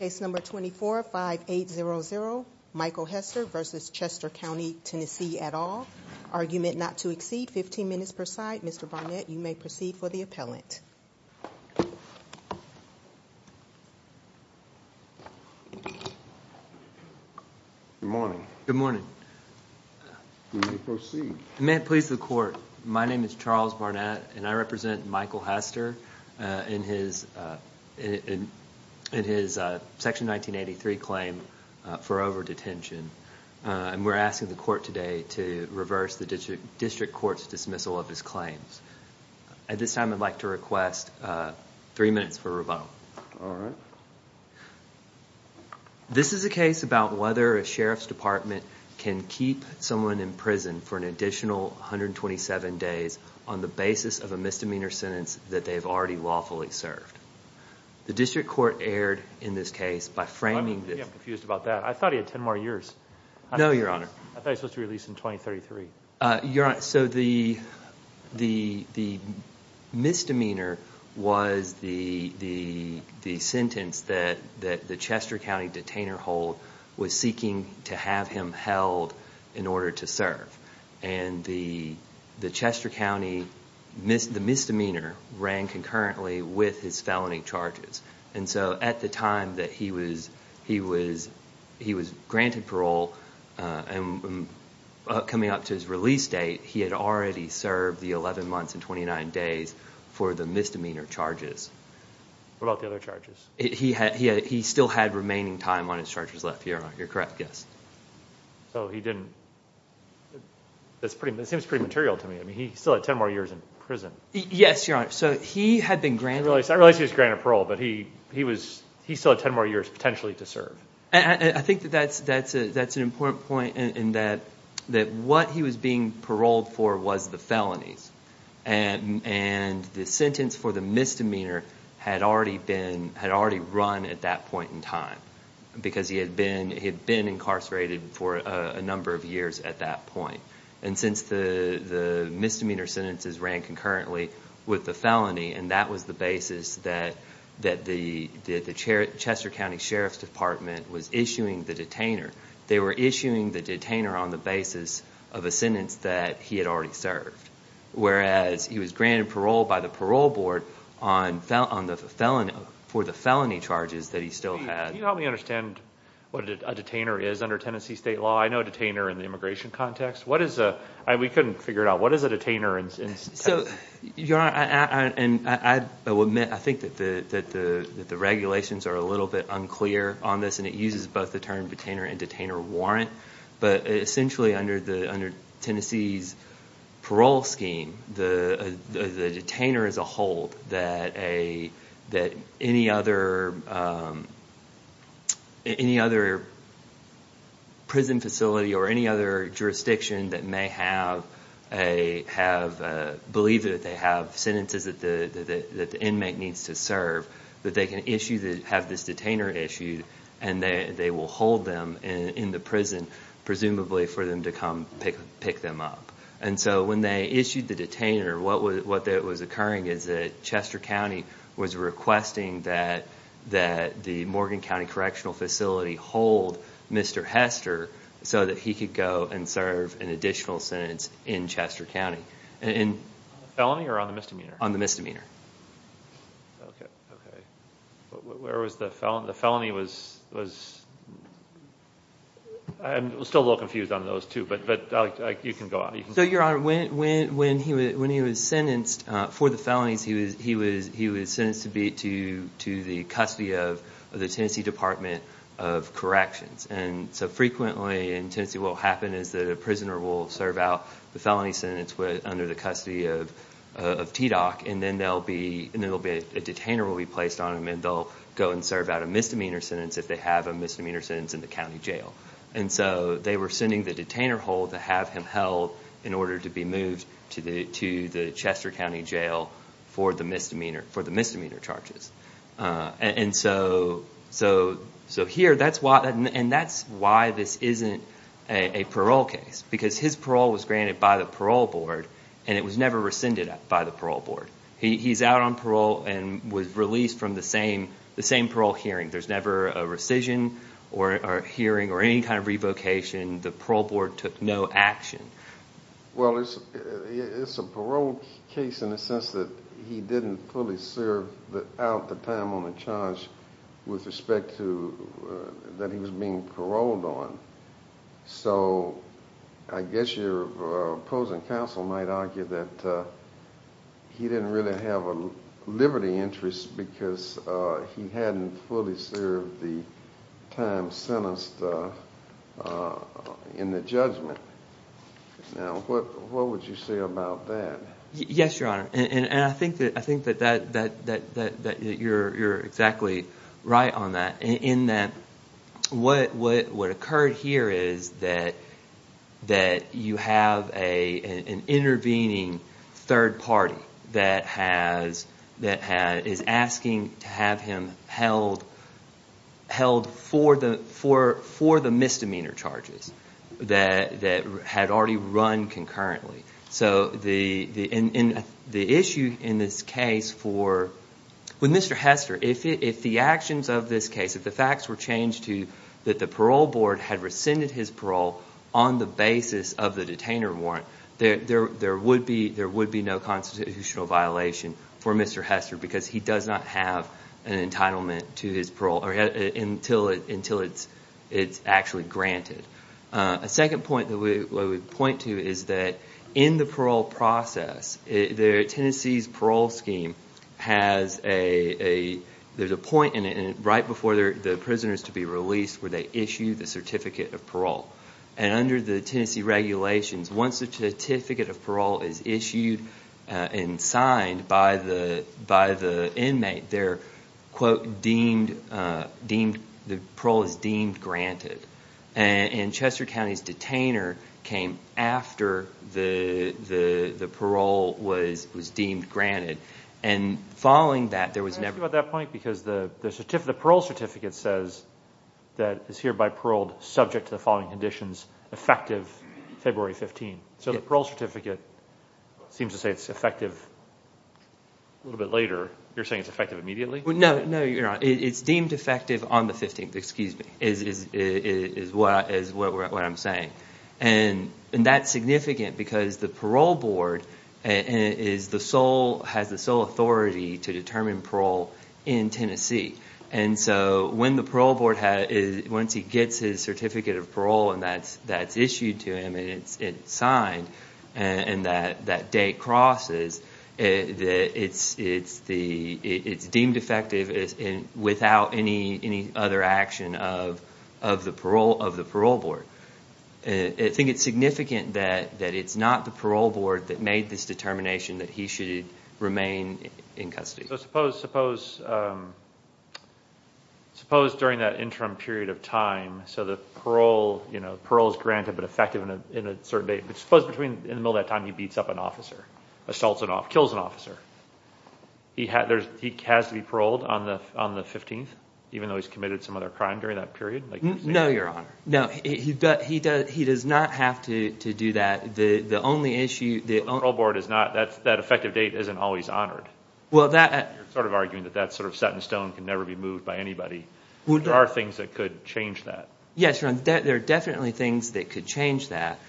Case No. 24-5800 Michael Hester v. Chester County, TN, at all. Argument not to exceed 15 minutes per side. Mr. Barnett, you may proceed for the appellant. Good morning. Good morning. Please proceed. May it please the court, my name is Charles Barnett and I represent Michael Hester in his Section 1983 claim for overdetention. We're asking the court today to reverse the district court's dismissal of his claims. At this time I'd like to request three minutes for rebuttal. This is a case about whether a sheriff's department can keep someone in prison for an additional 127 days on the basis of a misdemeanor sentence that they've already lawfully served. The district court erred in this case by framing this. I'm confused about that. I thought he had 10 more years. No, your honor. I thought he was supposed to be released in 2033. Your honor, so the misdemeanor was the sentence that the Chester County detainer hold was seeking to have held in order to serve. The Chester County misdemeanor ran concurrently with his felony charges. At the time that he was granted parole and coming up to his release date, he had already served the 11 months and 29 days for the misdemeanor charges. What about the other charges? He still had remaining time on his charges left, your correct guess. That seems pretty material to me. I mean, he still had 10 more years in prison. Yes, your honor. I realize he was granted parole, but he still had 10 more years potentially to serve. I think that's an important point in that what he was being paroled for was the felonies. And the sentence for the misdemeanor had already run at that point in time because he had been incarcerated for a number of years at that point. And since the misdemeanor sentences ran concurrently with the felony and that was the basis that the Chester County Sheriff's Department was issuing the detainer, they were issuing the detainer on the basis of a sentence that he had already served. Whereas he was granted parole by the parole board for the felony charges that he still had. Can you help me understand what a detainer is under Tennessee state law? I know a detainer in the immigration context. We couldn't figure it out. What is a detainer? I think that the regulations are a little bit unclear on this and it uses both the term detainer and detainer warrant. But essentially under Tennessee's parole scheme, the detainer is a hold that any other prison facility or any other jurisdiction that may believe that they have sentences that the inmate needs to serve, that they can have this detainer issued and they will hold them in the prison, presumably for them to come pick them up. And so when they issued the detainer, what was occurring is that Chester County was requesting that the Morgan County Correctional Facility hold Mr. Hester so that he could go and serve an additional sentence in Chester County. On the felony or the misdemeanor? On the misdemeanor. Where was the felony? I'm still a little confused on those two, but you can go on. So your honor, when he was sentenced for the felonies, he was sentenced to be to the custody of the Tennessee Department of Corrections. And so frequently in Tennessee what will happen is a prisoner will serve out the felony sentence under the custody of TDOC and then a detainer will be placed on him and they'll go and serve out a misdemeanor sentence if they have a misdemeanor sentence in the county jail. And so they were sending the detainer hold to have him held in order to be moved to the Chester County Jail for the misdemeanor charges. And so here that's why this isn't a parole case because his parole was granted by the parole board and it was never rescinded by the parole board. He's out on parole and was released from the same parole hearing. There's never a rescission or hearing or any kind of revocation. The parole board took no action. Well it's a parole case in the sense that he didn't fully serve out the time on the charge with respect to that he was being paroled on. So I guess your opposing counsel might argue that he didn't really have a liberty interest because he hadn't fully served the time sentenced in the judgment. Now what would you say about that? Yes your honor and I think that you're exactly right on that in that what occurred here is that you have an intervening third party that is asking to have him held for the misdemeanor charges that had already run concurrently. So the issue in this case for when Mr. Hester, if the actions of this case, if the facts were changed to that the parole board had rescinded his parole on the basis of the detainer warrant, there would be no constitutional violation for Mr. Hester because he does not have an entitlement to his parole until it's actually granted. A second point that we point to is that in the parole process, Tennessee's parole scheme has a point in it right before the prisoners to be released where they issue the certificate of parole. And under the Tennessee regulations, once the certificate of parole is issued and signed by the inmate, the parole is deemed granted. And Chester County's detainer came after the parole was deemed granted. And following that there was never... Can I ask you about that point? Because the parole certificate says that it's hereby paroled subject to the following conditions effective February 15. So the parole certificate seems to say it's effective a little bit later. You're saying it's effective immediately? No, you're not. It's deemed effective on the 15th, is what I'm saying. And that's significant because the parole board has the sole authority to determine parole in Tennessee. And so once he gets his certificate of parole and that's issued to him and it's signed and that date crosses, it's deemed effective without any other action of the parole board. I think it's significant that it's not the parole board that made this determination that he should remain in custody. So suppose during that interim period of time, so the parole is granted but effective in a certain date, but suppose in the middle of that time he beats up an officer, assaults an officer, kills an officer. He has to be paroled on the 15th even though he's committed some other crime during that period? No, your honor. No, he does not have to do that. The only issue... The parole board is not... That effective date isn't always honored. You're sort of arguing that that's sort of set in stone, can never be moved by anybody. There are things that could change that. Yes, your honor. There are definitely things that could change that.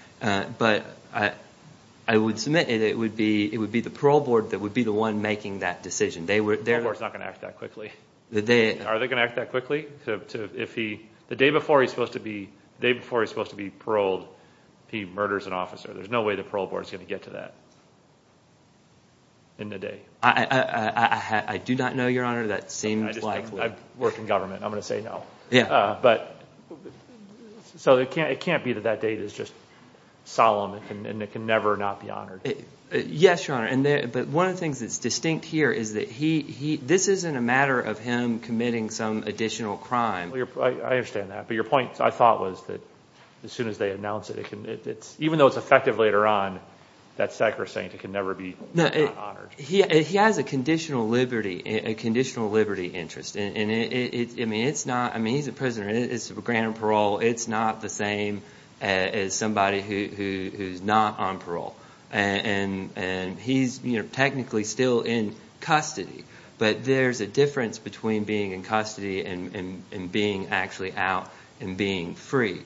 But I would submit it would be the parole board that would be the one making that decision. The parole board is not going to act that quickly. Are they going to act that quickly? The day before he's supposed to be paroled, he murders an officer. There's no way the parole board is going to get to that in a day. I do not know, your honor. That seems likely. I've worked in government. I'm going to say no. It can't be that that date is just solemn and it can never not be honored. Yes, your honor. But one of the things that's distinct here is that this isn't a matter of him committing some additional crime. I understand that. But your point, I thought, was that as soon as they announce it, even though it's effective later on, that's sacrosanct. It can It's a grand parole. It's not the same as somebody who's not on parole. He's technically still in custody. But there's a difference between being in custody and being actually out and being free.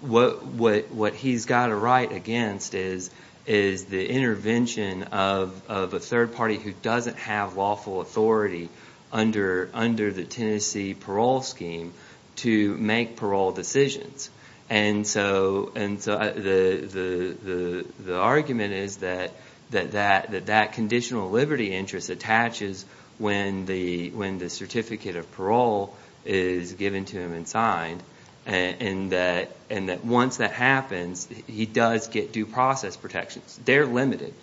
What he's got a right against is the intervention of a third party who doesn't have lawful authority under the Tennessee parole scheme to make parole decisions. The argument is that that conditional liberty interest attaches when the certificate of parole is given to him and signed. And that once that happens, he does get due process protections. They're limited.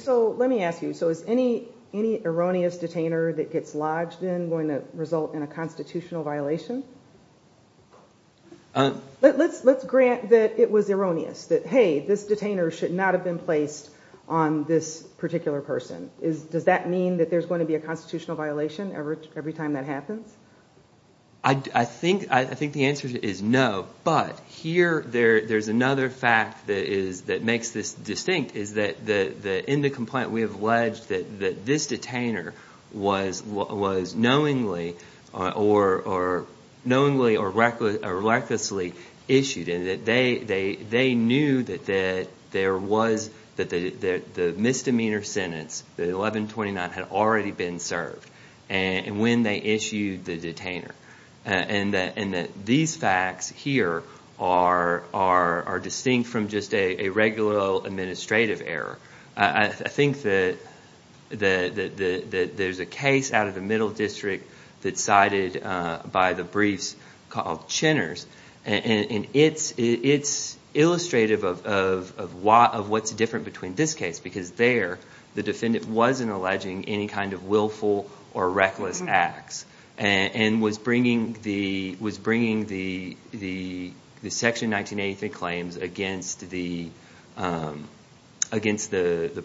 So let me ask you, is any erroneous detainer that gets lodged in going to result in a constitutional violation? Let's grant that it was erroneous. That, hey, this detainer should not have been placed on this particular person. Does that mean that there's going to be a constitutional violation every time that happens? I think the answer is no. But here, there's another fact that makes this distinct. In the complaint, we have alleged that this detainer was knowingly or recklessly issued. They knew that the misdemeanor sentence, the 1129, had already been served when they issued the detainer. And that these facts here are distinct from just a regular administrative error. I think that there's a case out of the middle district that's cited by the briefs called Chenner's. And it's illustrative of what's different between this case. Because there, the defendant wasn't alleging any kind of willful or reckless acts and was bringing the Section 1983 claims against the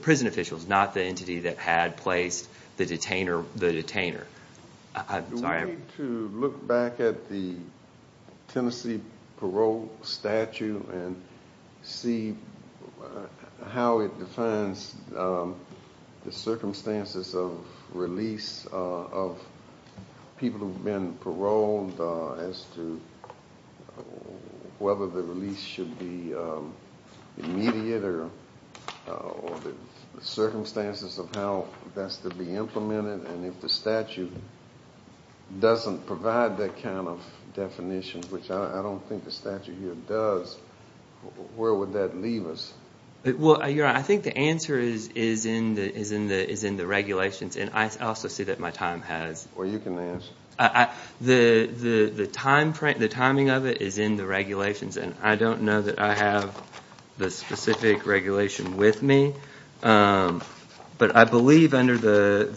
prison officials, not the entity that had placed the detainer. Do we need to look back at the Tennessee parole statute and see how it defines the circumstances of release of people who've been paroled as to whether the release should be immediate or the circumstances of how that's to be implemented? And if the statute doesn't provide that kind of definition, which I don't think the statute does, where would that leave us? Well, you're right. I think the answer is in the regulations. And I also see that my time has. Well, you can answer. The timing of it is in the regulations. And I don't know that I have the specific regulation with me. But I believe under the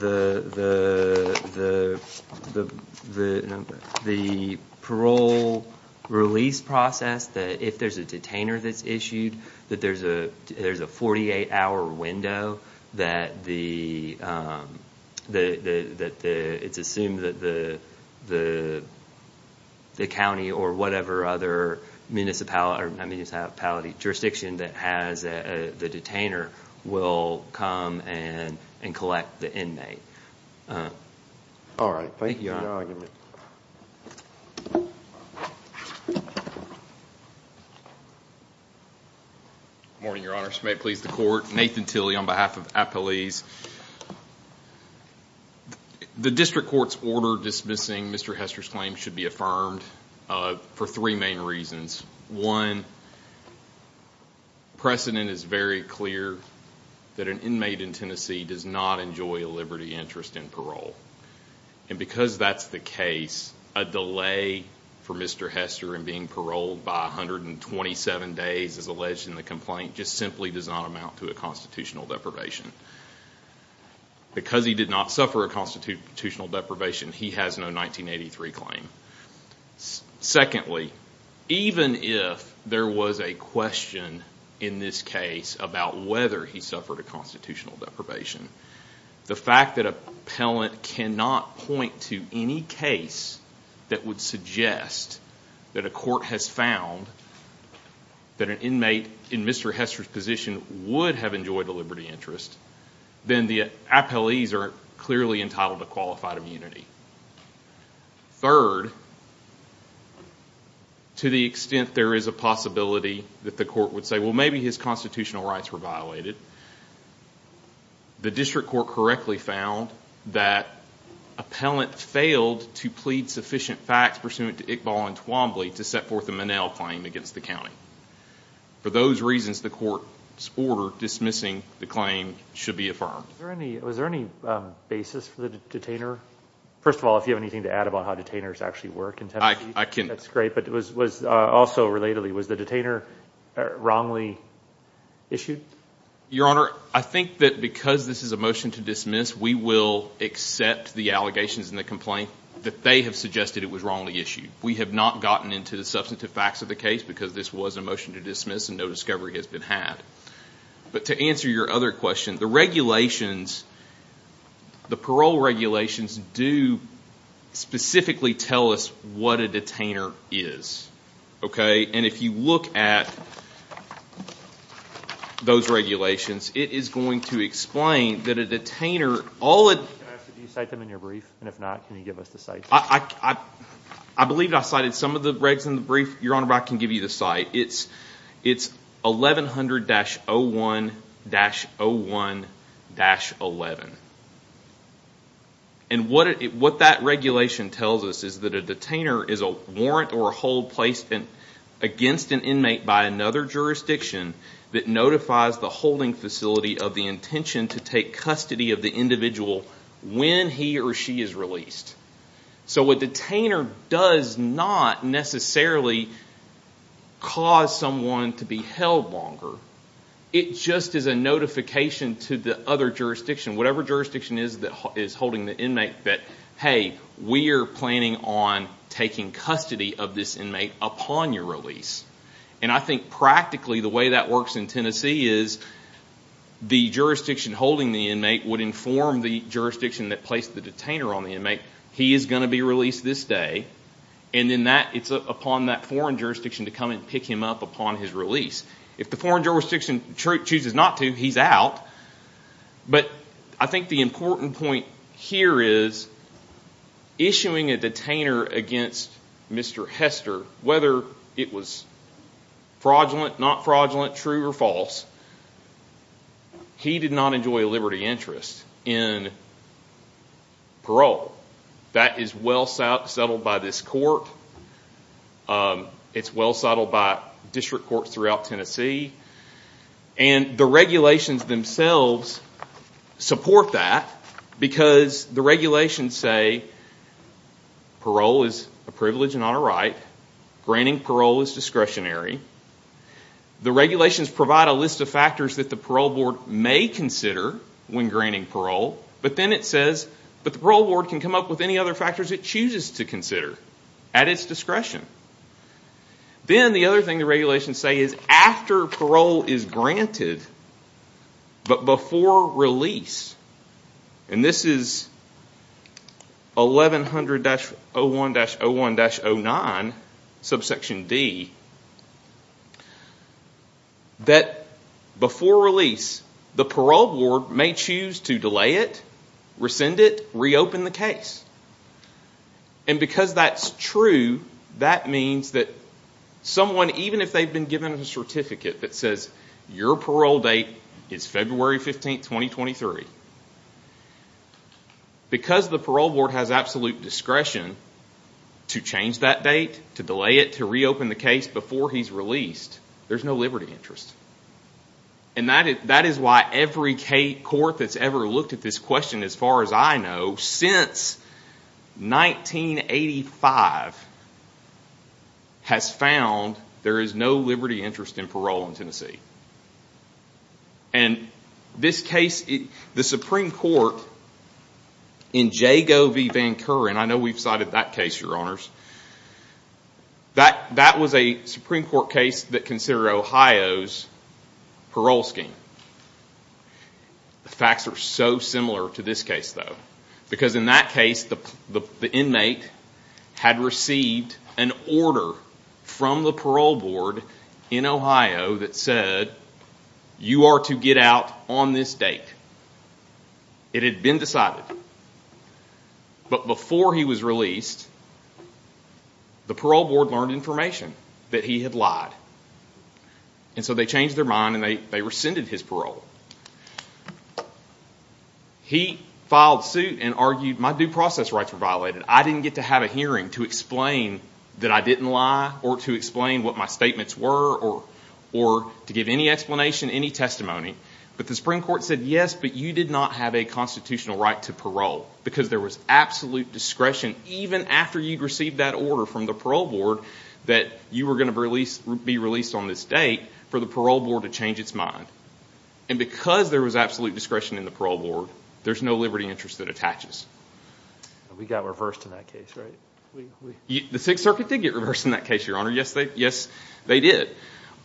the parole release process, that if there's a detainer that's issued, that there's a 48-hour window, that it's assumed that the county or whatever other municipality or municipality jurisdiction that has the detainer will come and collect the inmate. All right. Thank you for your argument. Good morning, Your Honor. This may please the court. Nathan Tilley on behalf of Appalese. The district court's order dismissing Mr. Hester's claim should be affirmed for three main reasons. One, precedent is very clear that an inmate in Tennessee does not enjoy a liberty interest in parole. And because that's the case, a delay for Mr. Hester in being paroled by 127 days, as alleged in the complaint, just simply does not amount to a constitutional deprivation. Because he did not suffer a constitutional deprivation, he has no 1983 claim. Secondly, even if there was a question in this case about whether he suffered a constitutional deprivation, the fact that an appellant cannot point to any case that would suggest that a court has found that an inmate in Mr. Hester's position would have enjoyed a liberty interest, then the appellees are clearly entitled to qualified immunity. Third, to the extent there is a possibility that the court would say, well, maybe his constitutional rights were violated, the district court correctly found that appellant failed to plead sufficient facts pursuant to Iqbal and Twombly to set forth a Monell claim against the county. For those reasons, the court's order dismissing the claim should be affirmed. Was there any basis for the detainer? First of all, if you have anything to add about how detainers actually work in Tennessee, that's great, but also relatedly, was the detainer wrongly issued? Your Honor, I think that because this is a motion to dismiss, we will accept the allegations in the complaint that they have suggested it was wrongly issued. We have not gotten into the substantive facts of the case because this was a motion to dismiss and no answer your other question. The regulations, the parole regulations do specifically tell us what a detainer is. If you look at those regulations, it is going to explain that a detainer... Can I ask that you cite them in your brief, and if not, can you give us the site? I believe I cited some of the regs in the brief. Your Honor, I can give you the site. It's 1100-01-01-11. What that regulation tells us is that a detainer is a warrant or a hold placed against an inmate by another jurisdiction that notifies the holding facility of the intention to take custody of the individual when he or she is released. A detainer does not necessarily cause someone to be held longer. It just is a notification to the other jurisdiction, whatever jurisdiction is holding the inmate, that, hey, we are planning on taking custody of this inmate upon your release. I think practically the way that works in Tennessee is the jurisdiction holding the inmate would inform the jurisdiction that placed the detainer on the pick him up upon his release. If the foreign jurisdiction chooses not to, he is out. I think the important point here is issuing a detainer against Mr. Hester, whether it was fraudulent, not fraudulent, true or false, he did not enjoy a liberty interest in parole. That is well settled by this court. It's well settled by district courts throughout Tennessee. The regulations themselves support that because the regulations say parole is a privilege and not a right. Granting parole is discretionary. The regulations provide a list of factors that parole board may consider when granting parole, but then it says the parole board can come up with any other factors it chooses to consider at its discretion. Then the other thing the regulations say is after parole is granted, but before release, and this is 1100-01-01-09, subsection D, that before release, the parole board may choose to delay it, rescind it, reopen the case. Because that is true, that means that someone, even if they have been given a certificate that says your parole date is February 15, 2023, because the parole board has absolute discretion to change that date, to delay it, to reopen the case before he's released, there's no liberty interest. That is why every court that's ever looked at this question, as far as I know, since 1985, has found there is no liberty interest in parole in Tennessee. And this case, the Supreme Court in Jago v. Van Curren, I know we've cited that case, your honors, that was a Supreme Court case that considered Ohio's parole scheme. The facts are so similar to this case, though, because in that case the inmate had received an order from the parole board in Ohio that said you are to get out on this date. It had been decided. But before he was released, the parole board learned information that he had lied. And so they changed their mind and they rescinded his parole. He filed suit and argued, my due process rights were violated. I didn't get to have a hearing to explain that I didn't lie or to explain what my statements were or to give any explanation, any testimony. But the Supreme Court said, yes, but you did not have a constitutional right to parole because there was absolute discretion, even after you'd received that order from the parole board, that you were going to be released on this date for the parole board to change its mind. And because there was absolute discretion in the parole board, there's no liberty interest that attaches. We got reversed in that case, right? The Sixth Circuit did get reversed in that case, your honor. Yes, they did.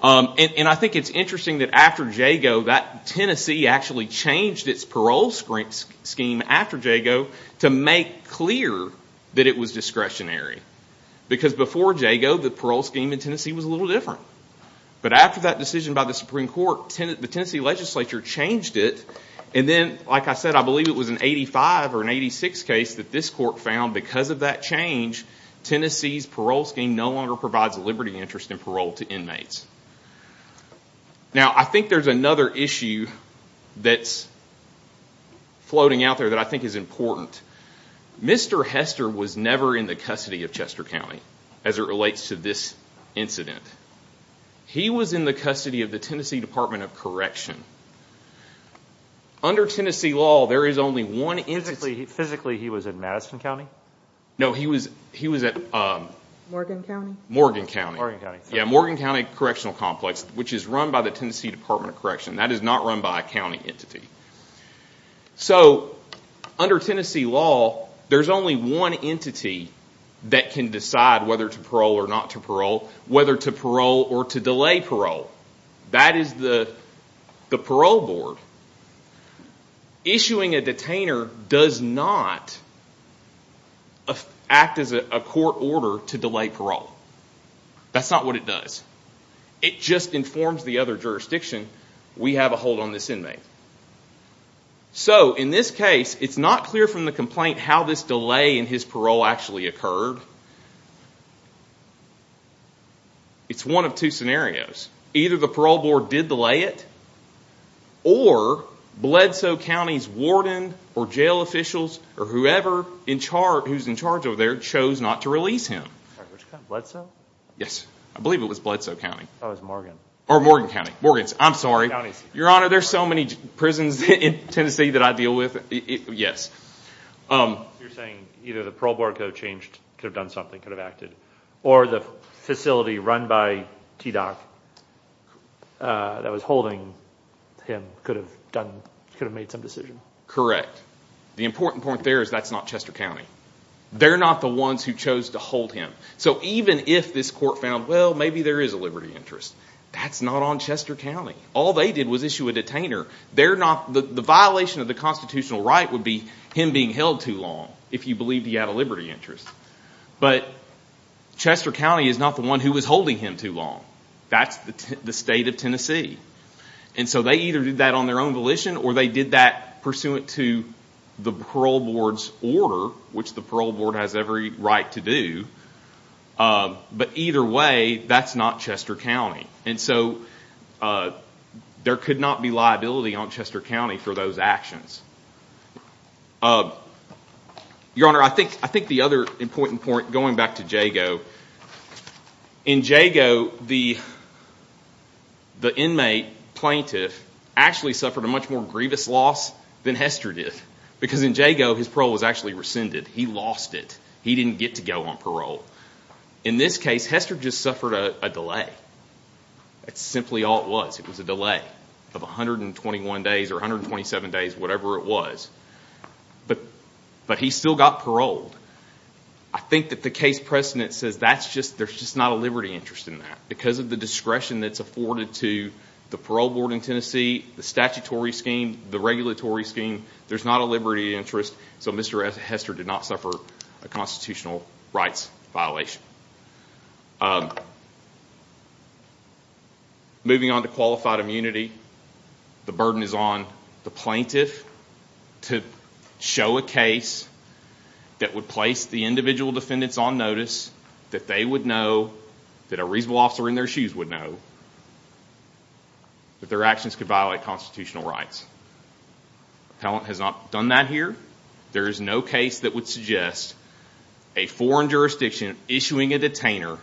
And I think it's interesting that after Jago, that Tennessee actually changed its parole scheme after Jago to make clear that it was discretionary. Because before Jago, the parole scheme in Tennessee was a little different. But after that decision by the Supreme Court, the Tennessee legislature changed it. And then, like I said, I believe it was an 85 or an 86 case that this court found because of that change, Tennessee's parole scheme no longer provides a liberty interest in parole to inmates. Now, I think there's another issue that's floating out there that I think is important. Mr. Hester was never in the custody of County, as it relates to this incident. He was in the custody of the Tennessee Department of Correction. Under Tennessee law, there is only one entity... Physically, he was in Madison County? No, he was at... Morgan County? Morgan County. Yeah, Morgan County Correctional Complex, which is run by the Tennessee Department of Correction. That is not run by a county entity. So, under Tennessee law, there's only one entity that can decide whether to parole or not to parole, whether to parole or to delay parole. That is the parole board. Issuing a detainer does not act as a court order to delay parole. That's not what it does. It just informs the other So, in this case, it's not clear from the complaint how this delay in his parole actually occurred. It's one of two scenarios. Either the parole board did delay it, or Bledsoe County's warden or jail officials or whoever who's in charge over there chose not to release him. Which county? Bledsoe? Yes, I believe it was Bledsoe County. Oh, it's Morgan. Or Morgan County Prisons in Tennessee that I deal with? Yes. You're saying either the parole board could have changed, could have done something, could have acted, or the facility run by TDOC that was holding him could have made some decision? Correct. The important point there is that's not Chester County. They're not the ones who chose to hold him. So, even if this court found, well, maybe there is a liberty interest, that's not on Chester County. All they did was issue a detainer. The violation of the constitutional right would be him being held too long if you believed he had a liberty interest. But Chester County is not the one who was holding him too long. That's the state of Tennessee. And so they either did that on their own volition or they did that pursuant to the parole board's order, which the parole board has every right to do. But either way, that's not Chester County. And so there could not be liability on Chester County for those actions. Your Honor, I think the other important point, going back to Jago. In Jago, the inmate plaintiff actually suffered a much more grievous loss than Hester did. Because in Jago, his parole was actually rescinded. He lost it. He didn't get to go on parole. In this case, Hester just suffered a delay. That's simply all it was. It was a delay of 121 days or 127 days, whatever it was. But he still got paroled. I think that the case precedent says there's just not a liberty interest in that. Because of the discretion that's afforded to the parole board in Tennessee, the statutory scheme, the regulatory scheme, there's not a liberty interest. So Mr. Hester did not suffer a constitutional rights violation. Moving on to qualified immunity, the burden is on the plaintiff to show a case that would place the individual defendants on notice that they would know, that a reasonable officer in their actions could violate constitutional rights. Appellant has not done that here. There is no case that would suggest a foreign jurisdiction issuing a detainer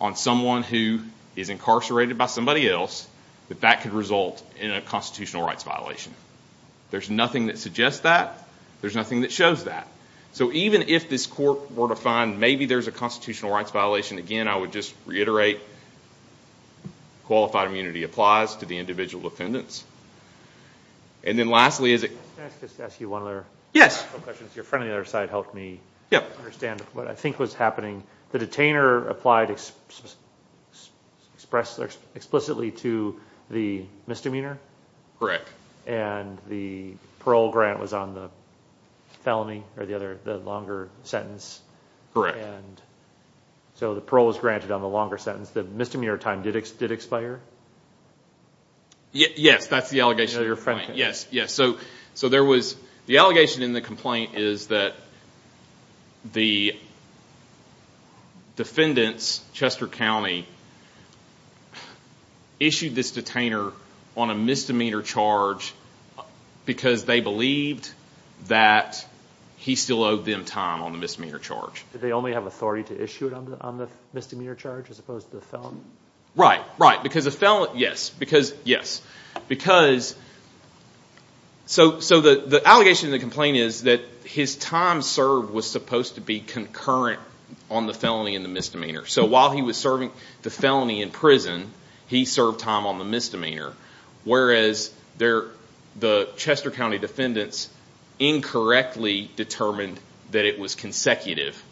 on someone who is incarcerated by somebody else, that that could result in a constitutional rights violation. There's nothing that suggests that. There's nothing that shows that. So even if this court were to find maybe there's a constitutional rights violation, again, I would just reiterate that qualified immunity applies to the individual defendants. And then lastly, is it... Can I just ask you one other question? Your friend on the other side helped me understand what I think was happening. The detainer applied explicitly to the misdemeanor. Correct. And the parole grant was on the felony or the other, the longer sentence. Correct. And so the parole was granted on the longer sentence. The misdemeanor time did expire? Yes, that's the allegation of your point. Yes, yes. So there was... The allegation in the complaint is that the defendants, Chester County, issued this detainer on a misdemeanor charge because they believed that he still owed them time on the misdemeanor charge. They only have authority to issue it on the misdemeanor charge as opposed to the felon? Right, right. Because the felon... Yes. Because... Yes. Because... So the allegation in the complaint is that his time served was supposed to be concurrent on the felony and the misdemeanor. So while he was serving the felony in prison, he served time on the misdemeanor, whereas the Chester County defendants incorrectly determined that it was consecutive.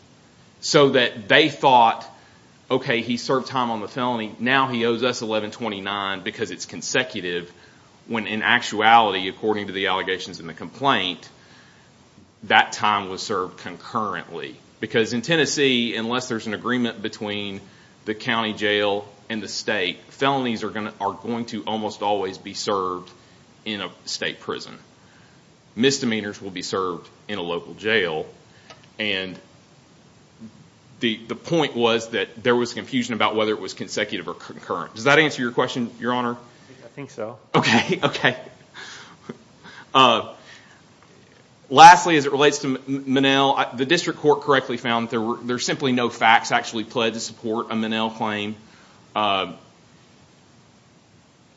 So that they thought, okay, he served time on the felony, now he owes us $1,129 because it's consecutive, when in actuality, according to the allegations in the complaint, that time was served concurrently. Because in Tennessee, unless there's an agreement between the county jail and the state, felonies are going to almost always be served in a state prison. Misdemeanors will be served in a local jail. And the point was that there was confusion about whether it was consecutive or concurrent. Does that answer your question, Your Honor? I think so. Okay, okay. Lastly, as it relates to Minnell, the district court correctly found that there were simply no facts actually pledged to support a Minnell claim.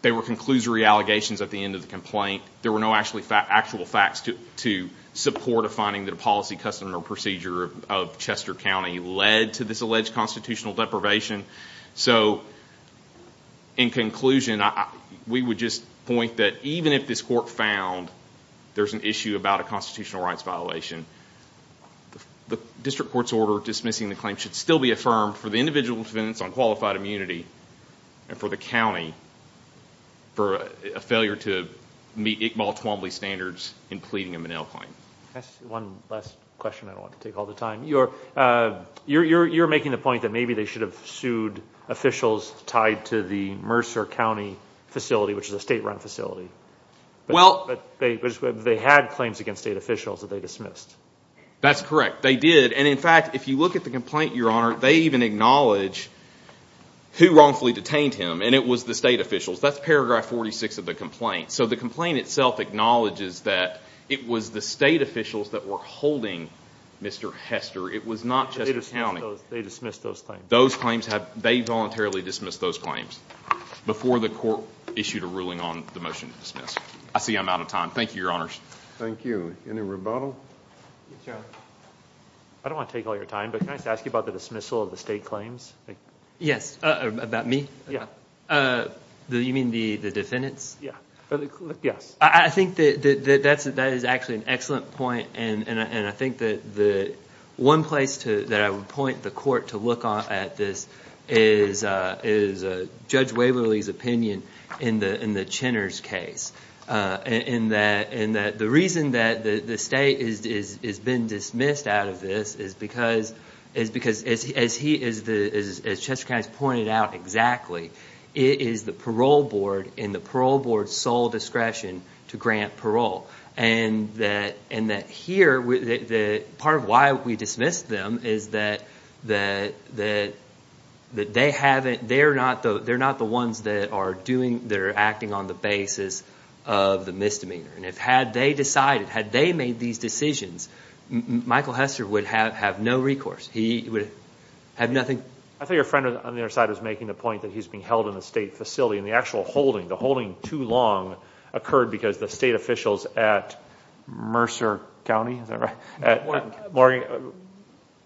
There were conclusory allegations at the end of the complaint. There were no actual facts to support a finding that a policy, custom, or procedure of Chester County led to this alleged constitutional deprivation. So in conclusion, we would just point that even if this court found there's an issue about a constitutional rights violation, the district court's order dismissing the claim should still be affirmed for the individual's defense on qualified immunity and for the county for a failure to meet Iqbal Twombly standards in pleading a Minnell claim. That's one last question I don't want to take all the time. You're making the point that maybe they should have sued officials tied to the Mercer County facility, which is a state-run facility. Well, they had claims against state officials that they dismissed. That's correct. They did. And in fact, if you look at the complaint, Your Honor, they even acknowledge who wrongfully detained him, and it was the state officials. That's paragraph 46 of the complaint. So the complaint itself acknowledges that it was the state officials that were holding Mr. Hester. It was not Chester County. They dismissed those claims. Those claims, they voluntarily dismissed those claims before the court issued a ruling on the motion to dismiss. I see I'm out of time. Thank you, Your Honors. Thank you. Any rebuttal? Yes, Your Honor. I don't want to take all your time, but can I ask you about the dismissal of the state claims? Yes, about me? Yeah. You mean the defendants? Yeah. Yes. I think that is actually an excellent point, and I think that one place that I would point the court to look at this is Judge Waverly's opinion in the Chenner's case, in that the reason that the state has been dismissed out of this is because, as Chester County has pointed out exactly, it is the parole board and the parole board's sole discretion to grant parole. And that here, part of why we dismissed them is that they're not the ones that are acting on the basis of the misdemeanor. And if had they decided, had they made these decisions, Michael Hester would have no recourse. He would have nothing. I thought your friend on the other side was making the point that he's being held in a state facility, and the actual holding, the holding too long, occurred because the state officials at Mercer County, is that right?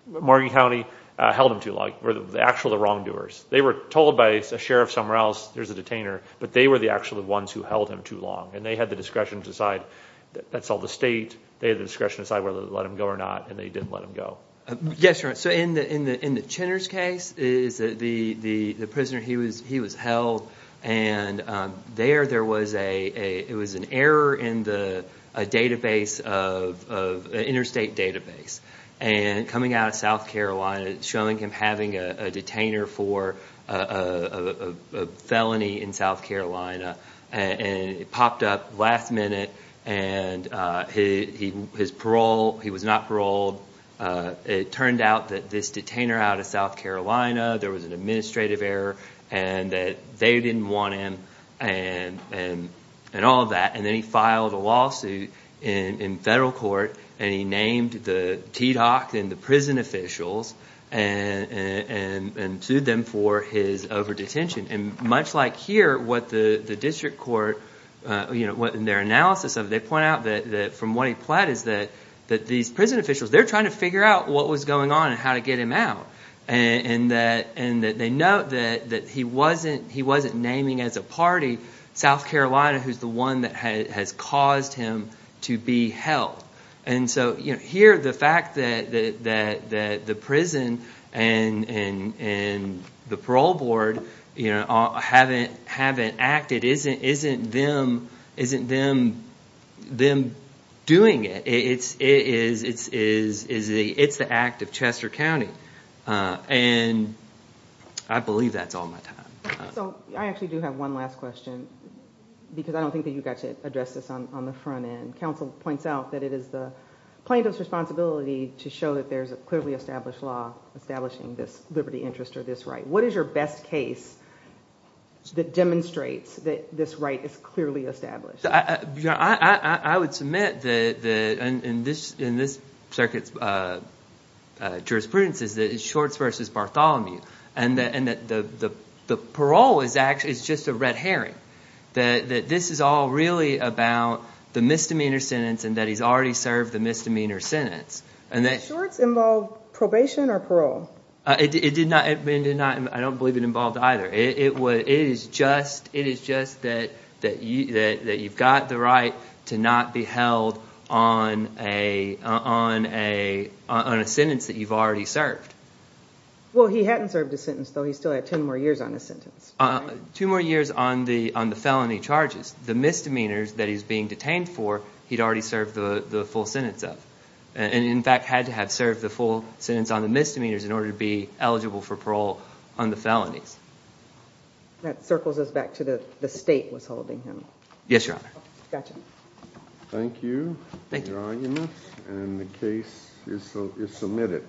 Morgan County held him too long, were the actual wrongdoers. They were told by a sheriff somewhere else, there's a detainer, but they were the actual ones who held him too long. And they had the discretion to decide, that's all the state, they had the discretion to decide whether to let him go or not, and they didn't let him go. Yes, you're right. So in the Chenner's case, the prisoner, he was held, and there was an error in the interstate database. And coming out of South Carolina, showing him having a detainer for a felony in South Carolina, and it popped up last minute, and his parole, he was not paroled. It turned out that this detainer out of South Carolina, there was an administrative error, and that they didn't want him, and all of that. And then he filed a lawsuit in federal court, and he named the TDOC and the prison officials, and sued them for his over-detention. And much like here, what the district court, you know, what their analysis of it, they point out that from what he pled is that these prison officials, they're trying to what was going on, and how to get him out. And that they note that he wasn't naming as a party South Carolina, who's the one that has caused him to be held. And so here, the fact that the prison and the parole board, you know, haven't acted, isn't them doing it. It's the act of Chester County. And I believe that's all my time. So, I actually do have one last question, because I don't think that you've got to address this on the front end. Counsel points out that it is the plaintiff's responsibility to show that there's a clearly established law establishing this liberty interest, or this right. What is your best case that demonstrates that this right is clearly established? I would submit that, in this circuit's jurisprudence, is that it's Shorts versus Bartholomew. And that the parole is actually, it's just a red herring. That this is all really about the misdemeanor sentence, and that he's already served the misdemeanor sentence. And that Shorts involved probation or parole? It did not. I don't believe it involved either. It is just that you've got the right to not be held on a sentence that you've already served. Well, he hadn't served a sentence, though. He still had 10 more years on his sentence. Two more years on the felony charges. The misdemeanors that he's being detained for, he'd already served the full sentence of. And, in fact, had to have served the full sentence on the misdemeanors in order to be eligible for parole on the felonies. That circles us back to the state was holding him. Yes, Your Honor. Gotcha. Thank you for your argument, and the case is submitted.